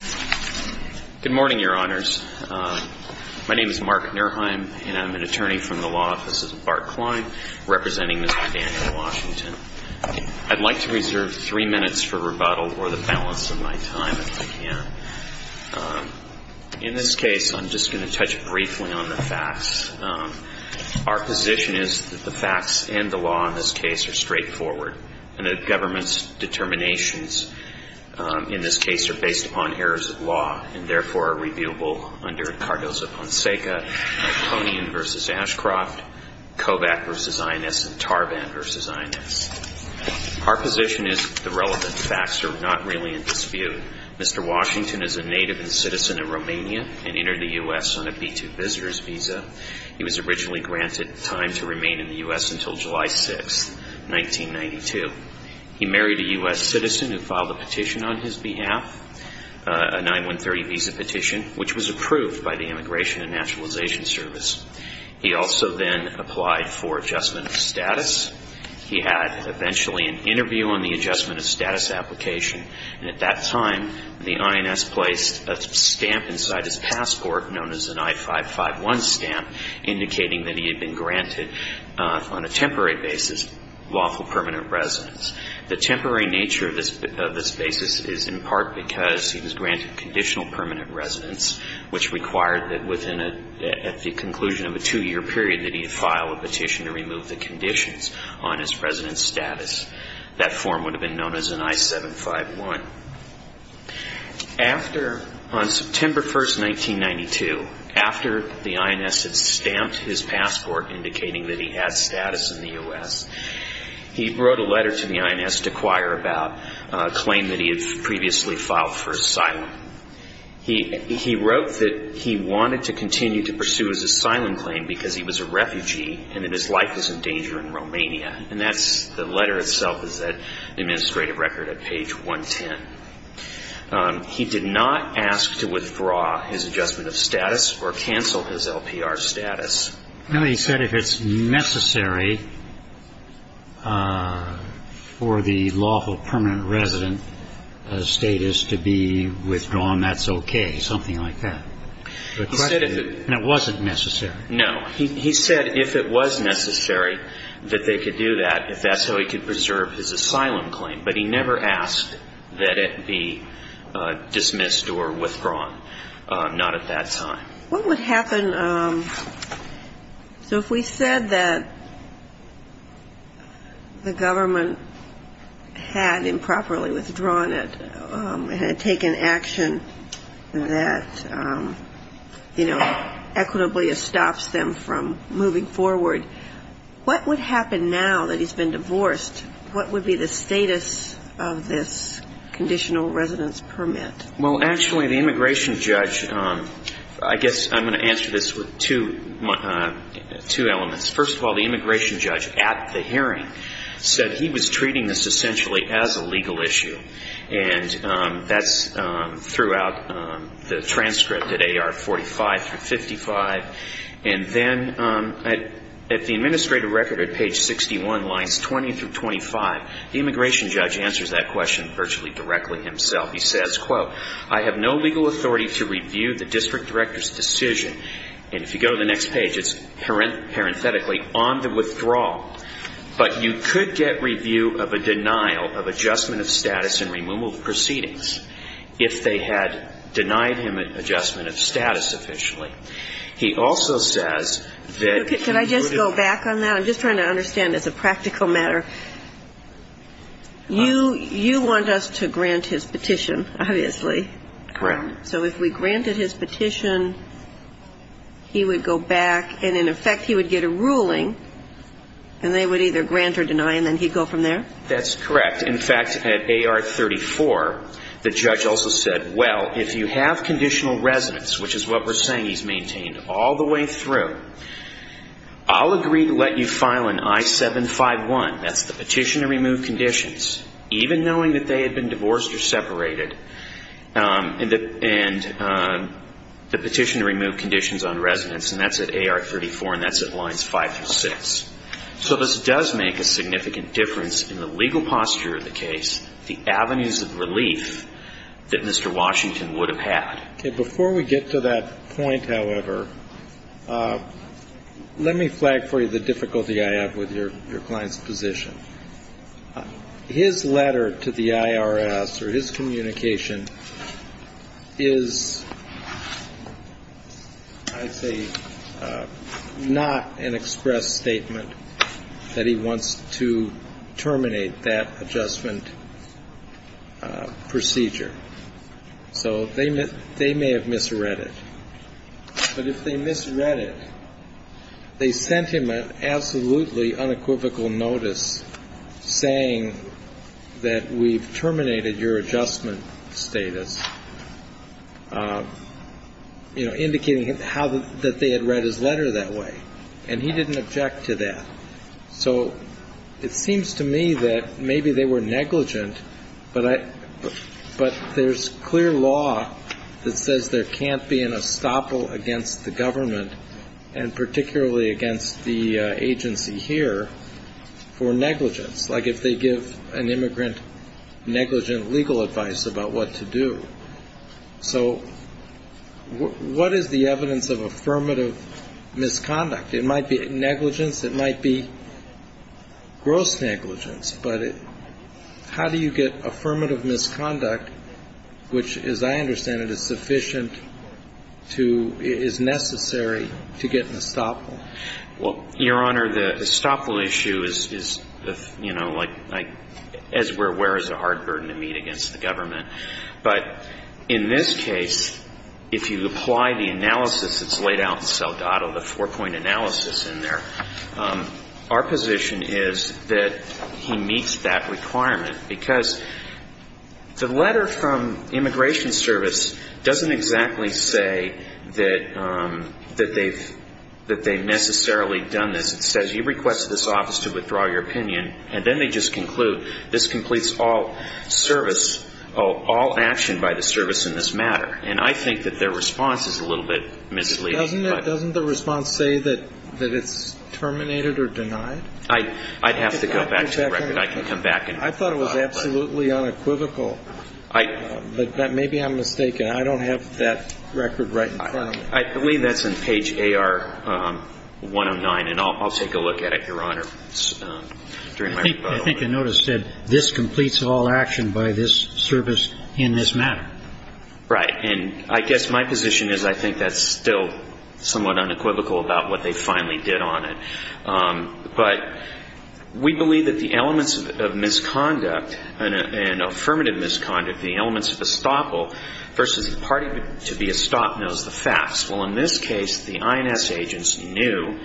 Good morning, Your Honors. My name is Mark Nerheim, and I'm an attorney from the Law Offices of Bart Klein, representing Mr. Daniel Washington. I'd like to reserve three minutes for rebuttal for the balance of my time, if I can. In this case, I'm just going to touch briefly on the facts. Our position is that the facts and the law in this case are straightforward, and the government's determinations in this case are based upon errors of law, and therefore are reviewable under Cardoza-Ponseca, Meltonian v. Ashcroft, Kovac v. Ines, and Tarvan v. Ines. Our position is that the relevant facts are not really in dispute. Mr. Washington is a native and citizen of Romania, and entered the U.S. on a B-2 visitor's visa. He was originally granted time to remain in the U.S. until July 6th, 1992. He married a U.S. citizen who filed a petition on his behalf, a 9-1-30 visa petition, which was approved by the Immigration and Naturalization Service. He also then applied for adjustment of status. He had eventually an interview on the adjustment of status application, and at that time, the INS placed a stamp inside his passport known as an I-551 stamp, indicating that he had been granted on a temporary basis lawful permanent residence. The temporary nature of this basis is in part because he was granted conditional permanent residence, which required that within a, at the conclusion of a two-year period, that he file a petition to remove the conditions on his residence status. That form would have been known as an I-751. After, on September 1st, 1992, after the INS had stamped his passport indicating that he had status in the U.S., he wrote a letter to the INS to acquire about a claim that he had previously filed for asylum. He wrote that he wanted to continue to pursue his asylum claim because he was a refugee and that his life was in danger in Romania, and that's the letter itself is at the administrative record at page 110. He did not ask to withdraw his adjustment of status or cancel his LPR status. Now, he said if it's necessary for the lawful permanent resident status to be withdrawn, that's okay, something like that. He said if it was necessary. That they could do that, if that's how he could preserve his asylum claim. But he never asked that it be dismissed or withdrawn. Not at that time. What would happen, so if we said that the government had improperly withdrawn it, had taken action that, you know, equitably stops them from moving forward, what would happen now that he's been divorced? What would be the status of this conditional residence permit? Well, actually, the immigration judge, I guess I'm going to answer this with two elements. First of all, the immigration judge at the hearing said he was treating this essentially as a legal issue. And that's throughout the transcript at AR 45 through 55. And then at the administrative record at page 61, lines 20 through 25, the immigration judge answers that question virtually directly himself. He says, quote, I have no legal authority to review the district director's decision and if you go to the next page, it's parenthetically, on the withdrawal, but you could get review of a denial of adjustment of status and removal of proceedings if they had denied him adjustment of status officially. He also says that he would have to go back on that. I'm just trying to understand as a practical matter. You want us to grant his petition, obviously. Correct. So if we granted his petition, he would go back and, in effect, he would get a ruling and they would either grant or deny and then he'd go from there? That's correct. In fact, at AR 34, the judge also said, well, if you have conditional residence, which is what we're saying he's maintained all the way through, I'll agree to let you file an I-751, that's the petition to remove conditions, even knowing that they had been divorced or separated, and the petition to remove conditions on residence and that's at AR 34 and that's at lines 5 through 6. So this does make a significant difference in the legal posture of the case, the avenues of relief that Mr. Washington would have had. Before we get to that point, however, let me flag for you the difficulty I have with your client's position. His letter to the IRS or his communication is, I'd say, not an express statement that he wants to terminate that adjustment procedure. So they may have misread it. But if they misread it, they sent him an absolutely unequivocal notice saying that we've terminated your adjustment status, you know, indicating how that they had read his letter that way, and he didn't object to that. So it seems to me that maybe they were negligent, but there's clear law that says there can't be an estoppel against the government and particularly against the agency here for negligence. Like if they give an immigrant negligent legal advice about what to do. So what is the evidence of affirmative misconduct? It might be negligence. It might be gross negligence. But how do you get affirmative misconduct, which, as I understand it, is sufficient to, is necessary to get an estoppel? Well, Your Honor, the estoppel issue is, you know, like, as we're aware, is a hard burden to meet against the government. But in this case, if you apply the analysis that's laid out in Saldado, the four-point analysis in there, our position is that he meets that requirement. Because the letter from Immigration Service doesn't exactly say that they've necessarily done this. It says you request this office to withdraw your opinion, and then they just conclude, this completes all service, all action by the service in this matter. And I think that their response is a little bit misleading. Doesn't it, doesn't the response say that it's terminated or denied? I'd have to go back to the record. I can come back and reply. I thought it was absolutely unequivocal. But maybe I'm mistaken. I don't have that record right in front of me. I believe that's on page AR109, and I'll take a look at it, Your Honor, during my rebuttal. I think the notice said, this completes all action by this service in this matter. Right. And I guess my position is I think that's still somewhat unequivocal about what they finally did on it. But we believe that the elements of misconduct and affirmative misconduct, the elements of estoppel versus the party to be estoppel, is the facts. Well, in this case, the INS agents knew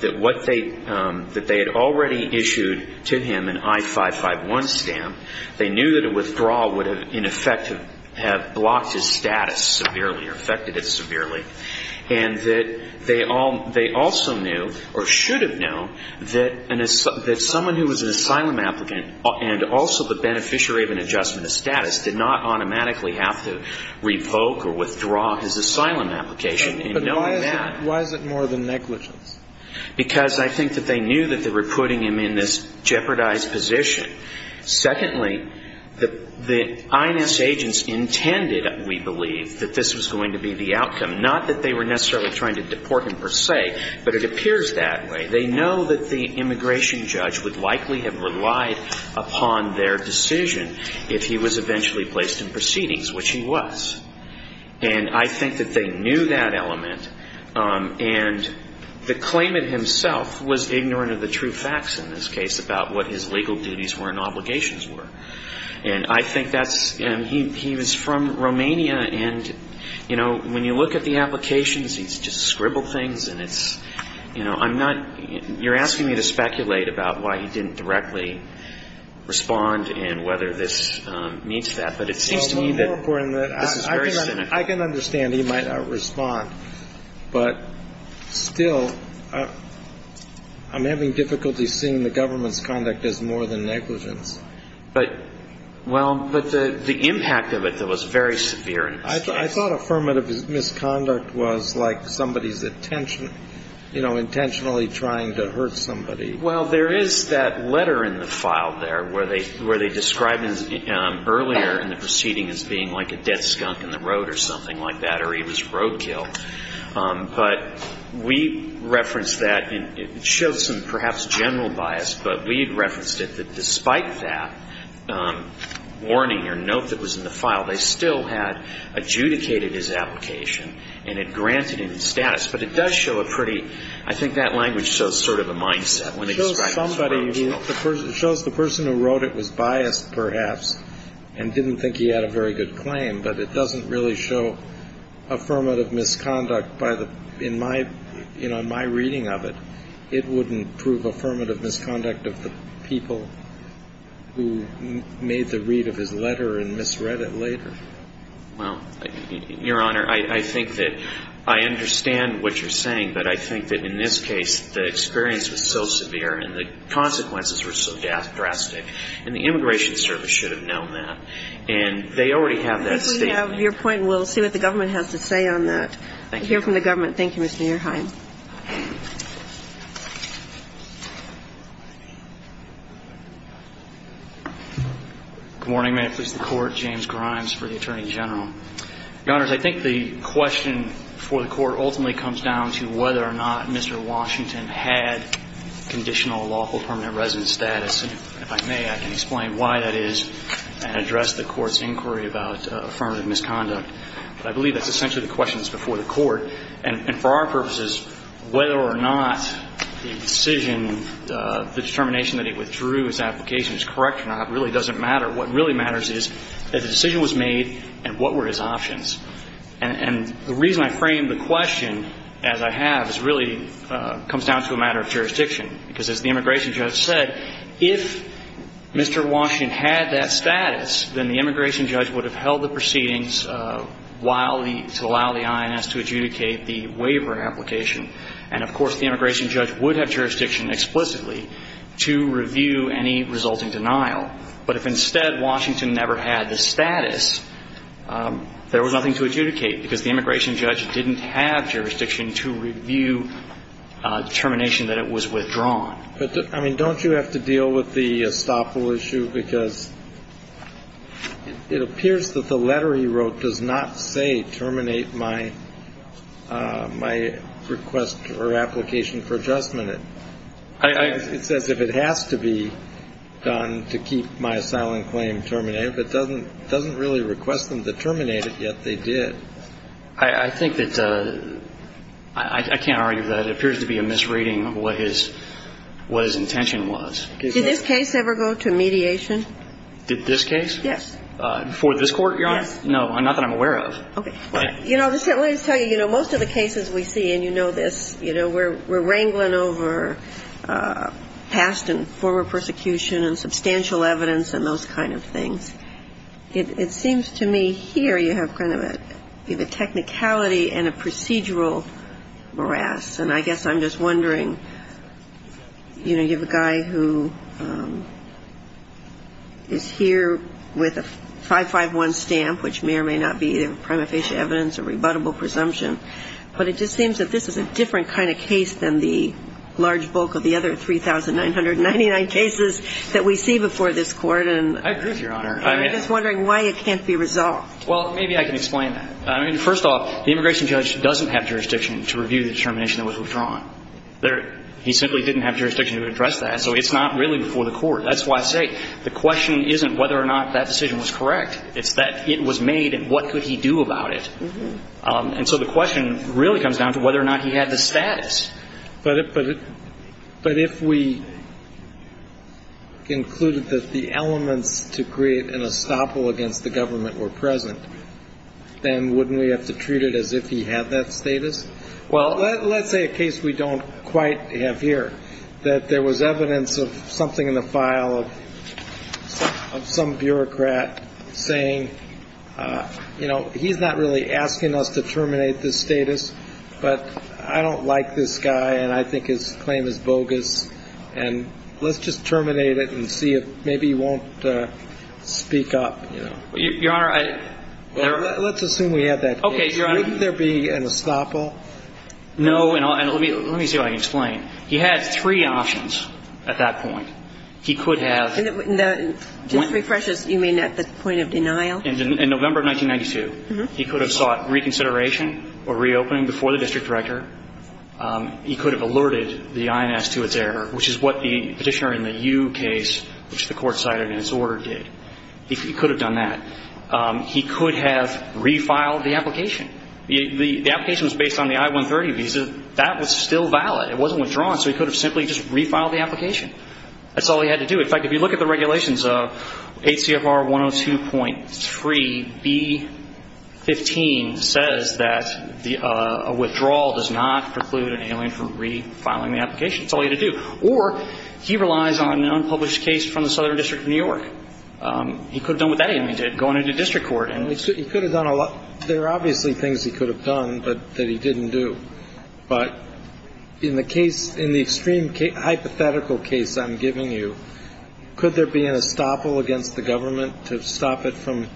that what they, that they had already issued to him an I-551 stamp, they knew that a withdrawal would have, in effect, have blocked his status severely or affected it severely. And that they also knew or should have known that someone who was an asylum applicant and also the beneficiary of an adjustment of status did not automatically have to revoke or withdraw his asylum application. And knowing that… But why is it more than negligence? Because I think that they knew that they were putting him in this jeopardized position. Secondly, the INS agents intended, we believe, that this was going to be the outcome. Not that they were necessarily trying to deport him per se, but it appears that way. They know that the immigration judge would likely have relied upon their decision if he was eventually placed in proceedings, which he was. And I think that they knew that element. And the claimant himself was ignorant of the true facts in this case about what his legal duties were and obligations were. And I think that's, and he was from Romania, and, you know, when you look at the applications, he's just scribbled things, and it's, you know, I'm not, you're asking me to speculate about why he didn't directly respond and whether this meets that, but it seems to me that this is very cynical. Well, more importantly, I can understand he might not respond, but still, I'm having difficulty seeing the government's conduct as more than negligence. But, well, but the impact of it, though, was very severe in this case. I thought affirmative misconduct was like somebody's intention, you know, intentionally trying to hurt somebody. Well, there is that letter in the file there where they described him earlier in the proceeding as being like a dead skunk in the road or something like that, or he was roadkill. But we referenced that, and it shows some perhaps general bias, but we had referenced it that despite that warning or note that was in the file, they still had adjudicated his application and had granted him his status. But it does show a pretty, I think that language shows sort of a mindset when they describe him as roadkill. It shows the person who wrote it was biased, perhaps, and didn't think he had a very good claim, but it doesn't really show affirmative misconduct by the, in my, you know, in my reading of it, it wouldn't prove affirmative misconduct of the people who made the read of his letter and misread it later. Well, Your Honor, I think that I understand what you're saying, but I think that in this case, the experience was so severe and the consequences were so drastic, and the Immigration Service should have known that, and they already have that statement. I think we have your point, and we'll see what the government has to say on that. I hear from the government. Thank you, Mr. Ehrheim. Good morning. May it please the Court. James Grimes for the Attorney General. Your Honors, I think the question for the Court ultimately comes down to whether or not Mr. Washington had conditional lawful permanent residence status, and if I may, I can explain why that is and address the Court's inquiry about affirmative misconduct. But I believe that's essentially the question that's before the Court, and for our purposes, whether or not the decision, the determination that he withdrew his application is correct or not really doesn't matter. What really matters is that the decision was made and what were his options. And the reason I frame the question as I have is really comes down to a matter of jurisdiction, because as the immigration judge said, if Mr. Washington had that status, then the immigration judge would have held the proceedings while the to allow the INS to adjudicate the waiver application. And, of course, the immigration judge would have jurisdiction explicitly to review any resulting denial. But if instead Washington never had the status, there was nothing to adjudicate, because the immigration judge didn't have jurisdiction to review determination that it was withdrawn. But, I mean, don't you have to deal with the estoppel issue? Because it appears that the letter he wrote does not say terminate my request or application for adjustment. It says if it has to be done to keep my asylum claim terminated, but it doesn't really request them to terminate it, yet they did. I think that's a, I can't argue with that. It appears to be a misreading of what his intention was. Did this case ever go to mediation? Did this case? Yes. Before this Court, Your Honor? Yes. No, not that I'm aware of. Okay. You know, let me just tell you, you know, most of the cases we see, and you know this, you know, we're wrangling over past and former persecution and substantial evidence and those kind of things. It seems to me here you have kind of a technicality and a procedural morass. And I guess I'm just wondering, you know, you have a guy who is here with a 551 stamp, which may or may not be prima facie evidence, a rebuttable presumption, but it just seems that this is a different kind of case than the large bulk of the other 3,999 cases that we see before this Court. I agree with you, Your Honor. I'm just wondering why it can't be resolved. Well, maybe I can explain that. I mean, first off, the immigration judge doesn't have jurisdiction to review the determination that was withdrawn. He simply didn't have jurisdiction to address that, so it's not really before the Court. That's why I say the question isn't whether or not that decision was correct. It's that it was made and what could he do about it. And so the question really comes down to whether or not he had the status. But if we concluded that the elements to create an estoppel against the government were present, then wouldn't we have to treat it as if he had that status? Well, let's say a case we don't quite have here, that there was evidence of something in the file of some bureaucrat saying, you know, he's not really asking us to terminate this status, but I don't like this guy, and I think his claim is bogus, and let's just terminate it and see if maybe he won't speak up, you know. Your Honor, I – Well, let's assume we have that case. Okay, Your Honor – Wouldn't there be an estoppel? No, and let me see if I can explain. He had three options at that point. He could have – And just to refresh us, you mean at the point of denial? In November of 1992, he could have sought reconsideration or reopening before the district director. He could have alerted the INS to its error, which is what the Petitioner in the Ewe case, which the Court cited in its order, did. He could have done that. He could have refiled the application. The application was based on the I-130 visa. That was still valid. It wasn't withdrawn, so he could have simply just refiled the application. That's all he had to do. In fact, if you look at the regulations, 8 CFR 102.3B15 says that a withdrawal does not preclude an alien from refiling the application. That's all he had to do. Or he relies on an unpublished case from the Southern District of New York. He could have done what that enemy did, going into district court. He could have done a lot – there are obviously things he could have done that he didn't do. But in the case – in the extreme hypothetical case I'm giving you, could there be an estoppel against the government to stop it from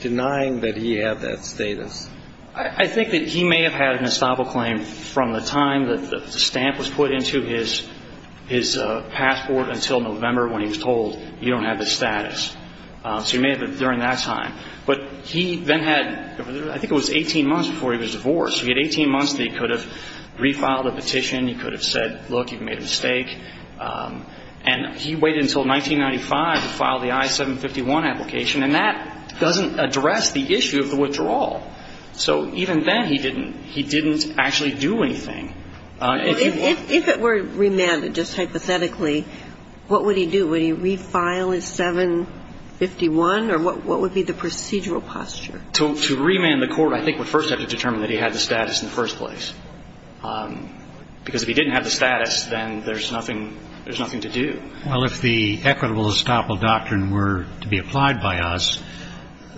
denying that he had that status? I think that he may have had an estoppel claim from the time that the stamp was put into his passport until November when he was told, you don't have this status. So he may have it during that time. But he then had – I think it was 18 months before he was divorced. He had 18 months that he could have refiled a petition. He could have said, look, you made a mistake. And he waited until 1995 to file the I-751 application, and that doesn't address the issue of the withdrawal. So even then he didn't – he didn't actually do anything. If it were remanded, just hypothetically, what would he do? Would he refile his I-751 or what would be the procedural posture? To remand the court, I think, would first have to determine that he had the status in the first place. Because if he didn't have the status, then there's nothing – there's nothing to do. Well, if the equitable estoppel doctrine were to be applied by us,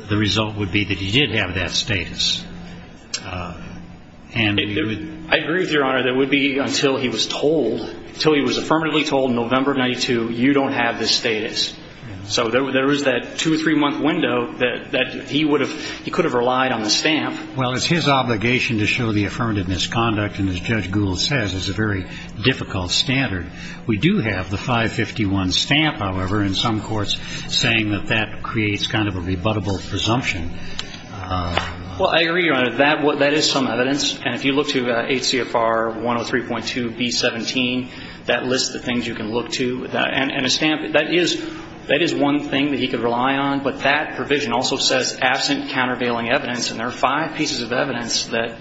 the result would be that he did have that status. I agree with Your Honor. That would be until he was told – until he was affirmatively told in November of 1992, you don't have this status. So there is that two or three month window that he would have – he could have relied on the stamp. Well, it's his obligation to show the affirmative misconduct. And as Judge Gould says, it's a very difficult standard. We do have the 551 stamp, however, in some courts saying that that creates kind of a rebuttable presumption. Well, I agree, Your Honor. That is some evidence. And if you look to HCFR 103.2B17, that lists the things you can look to. And a stamp, that is one thing that he could rely on. But that provision also says absent countervailing evidence. And there are five pieces of evidence that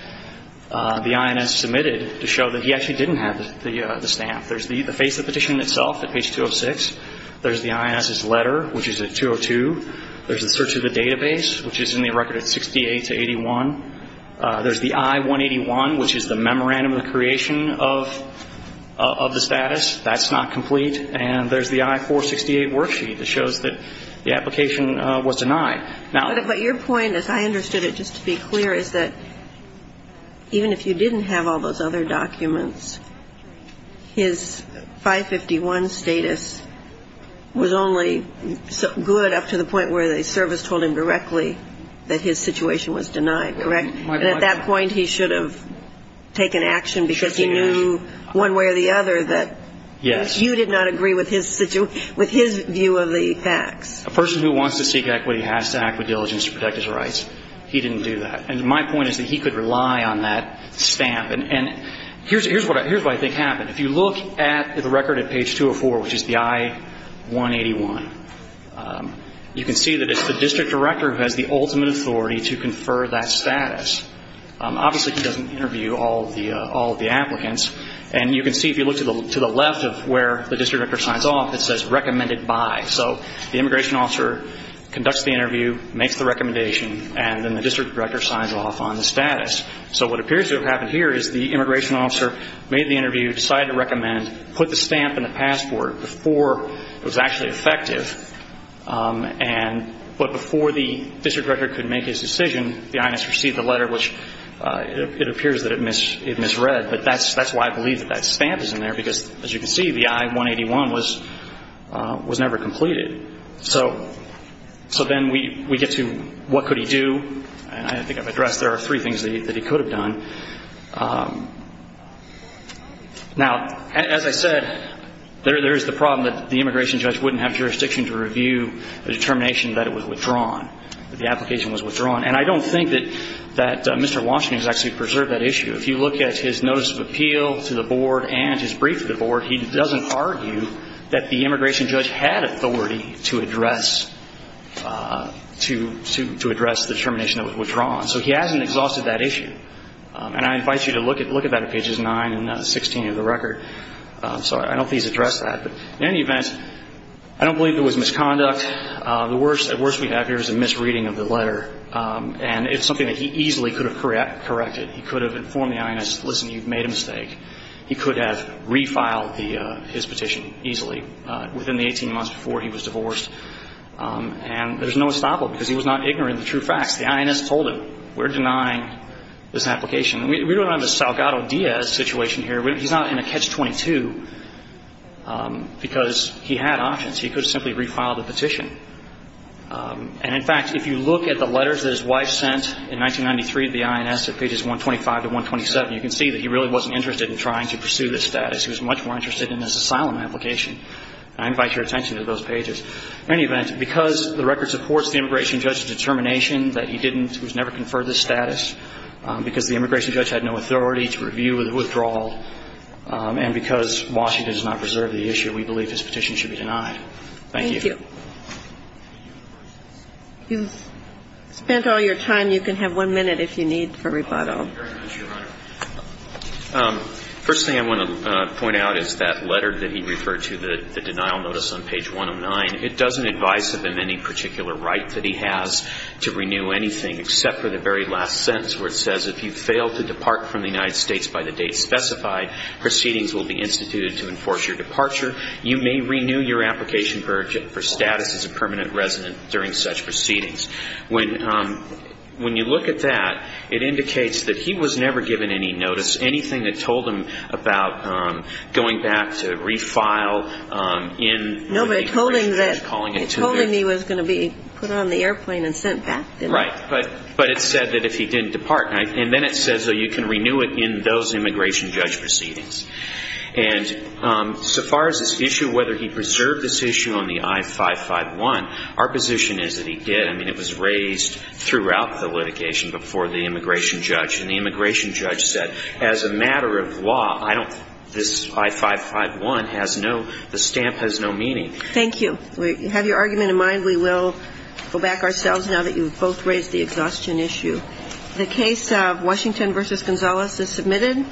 the INS submitted to show that he actually didn't have the stamp. There's the face of the petition itself at page 206. There's the INS's letter, which is at 202. There's the search of the database, which is at page 207, which is in the record at 68 to 81. There's the I-181, which is the memorandum of creation of the status. That's not complete. And there's the I-468 worksheet that shows that the application was denied. But your point, as I understood it, just to be clear, is that even if you didn't have all those other documents, his 551 status was only good up to the point where the service told him directly that his situation was denied, correct? And at that point, he should have taken action because he knew one way or the other that you did not agree with his view of the facts. A person who wants to seek equity has to act with diligence to protect his rights. He didn't do that. And my point is that he could rely on that stamp. And here's what I think happened. If you look at the record at page 204, which is the I-181, you can see that it's the district director who has the ultimate authority to confer that status. Obviously, he doesn't interview all of the applicants. And you can see, if you look to the left of where the district director signs off, it says recommended by. So the immigration officer conducts the interview, makes the recommendation, and then the district director signs off on the status. So what appears to have happened here is the immigration officer made the interview, decided to recommend, put the stamp in the passport before it was actually effective. And but before the district director could make his decision, the INS received the letter, which it appears that it misread. But that's why I believe that that stamp is in there because, as you can see, the I-181 was never completed. So then we get to what could he do. And I think I've addressed there are three things that he could have done. Now, as I said, there is the problem that the immigration judge wouldn't have jurisdiction to review the determination that it was withdrawn, that the application was withdrawn. And I don't think that Mr. Washington has actually preserved that issue. If you look at his notice of appeal to the board and his brief to the board, he doesn't argue that the immigration judge had authority to do that. He hasn't exhausted that issue. And I invite you to look at that at pages 9 and 16 of the record. So I don't think he's addressed that. But in any event, I don't believe there was misconduct. The worst we have here is a misreading of the letter. And it's something that he easily could have corrected. He could have informed the INS, listen, you've made a mistake. He could have refiled his petition easily within the 18 months before he was divorced. And there's no estoppel, because he was not ignorant of the true facts. The INS told him, we're denying this application. We don't have a Salgado-Diaz situation here. He's not in a catch-22 because he had options. He could have simply refiled the petition. And in fact, if you look at the letters that his wife sent in 1993 to the INS at pages 125 to 127, you can see that he really wasn't interested in trying to pursue this status. He was much more interested in this asylum application. I invite your attention to those pages. In any event, because the record supports the immigration judge's determination that he didn't, he was never conferred this status, because the immigration judge had no authority to review the withdrawal, and because Washington has not preserved the issue, we believe this petition should be denied. Thank you. Thank you. You've spent all your time. You can have one minute if you need for rebuttal. Thank you very much, Your Honor. First thing I want to point out is that letter that he referred to, the denial notice on page 109, it doesn't advise him of any particular right that he has to renew anything except for the very last sentence where it says, if you fail to depart from the United States by the date specified, proceedings will be instituted to enforce your departure. You may renew your application for status as a permanent resident during such proceedings. When you look at that, it indicates that he was never given any notice, anything that told him about going back to refile in the immigration judge calling it too big. No, but it told him that he was going to be put on the airplane and sent back, didn't it? Right. But it said that if he didn't depart. And then it says you can renew it in those immigration judge proceedings. And so far as this issue, whether he preserved this issue on the I-551, our position is that he did. I mean, it was raised throughout the litigation before the immigration judge. And the immigration judge said as a matter of law, I don't, this I-551 has no, the stamp has no meaning. Thank you. We have your argument in mind. We will go back ourselves now that you've both raised the exhaustion issue. The case of Washington v. Gonzales is submitted.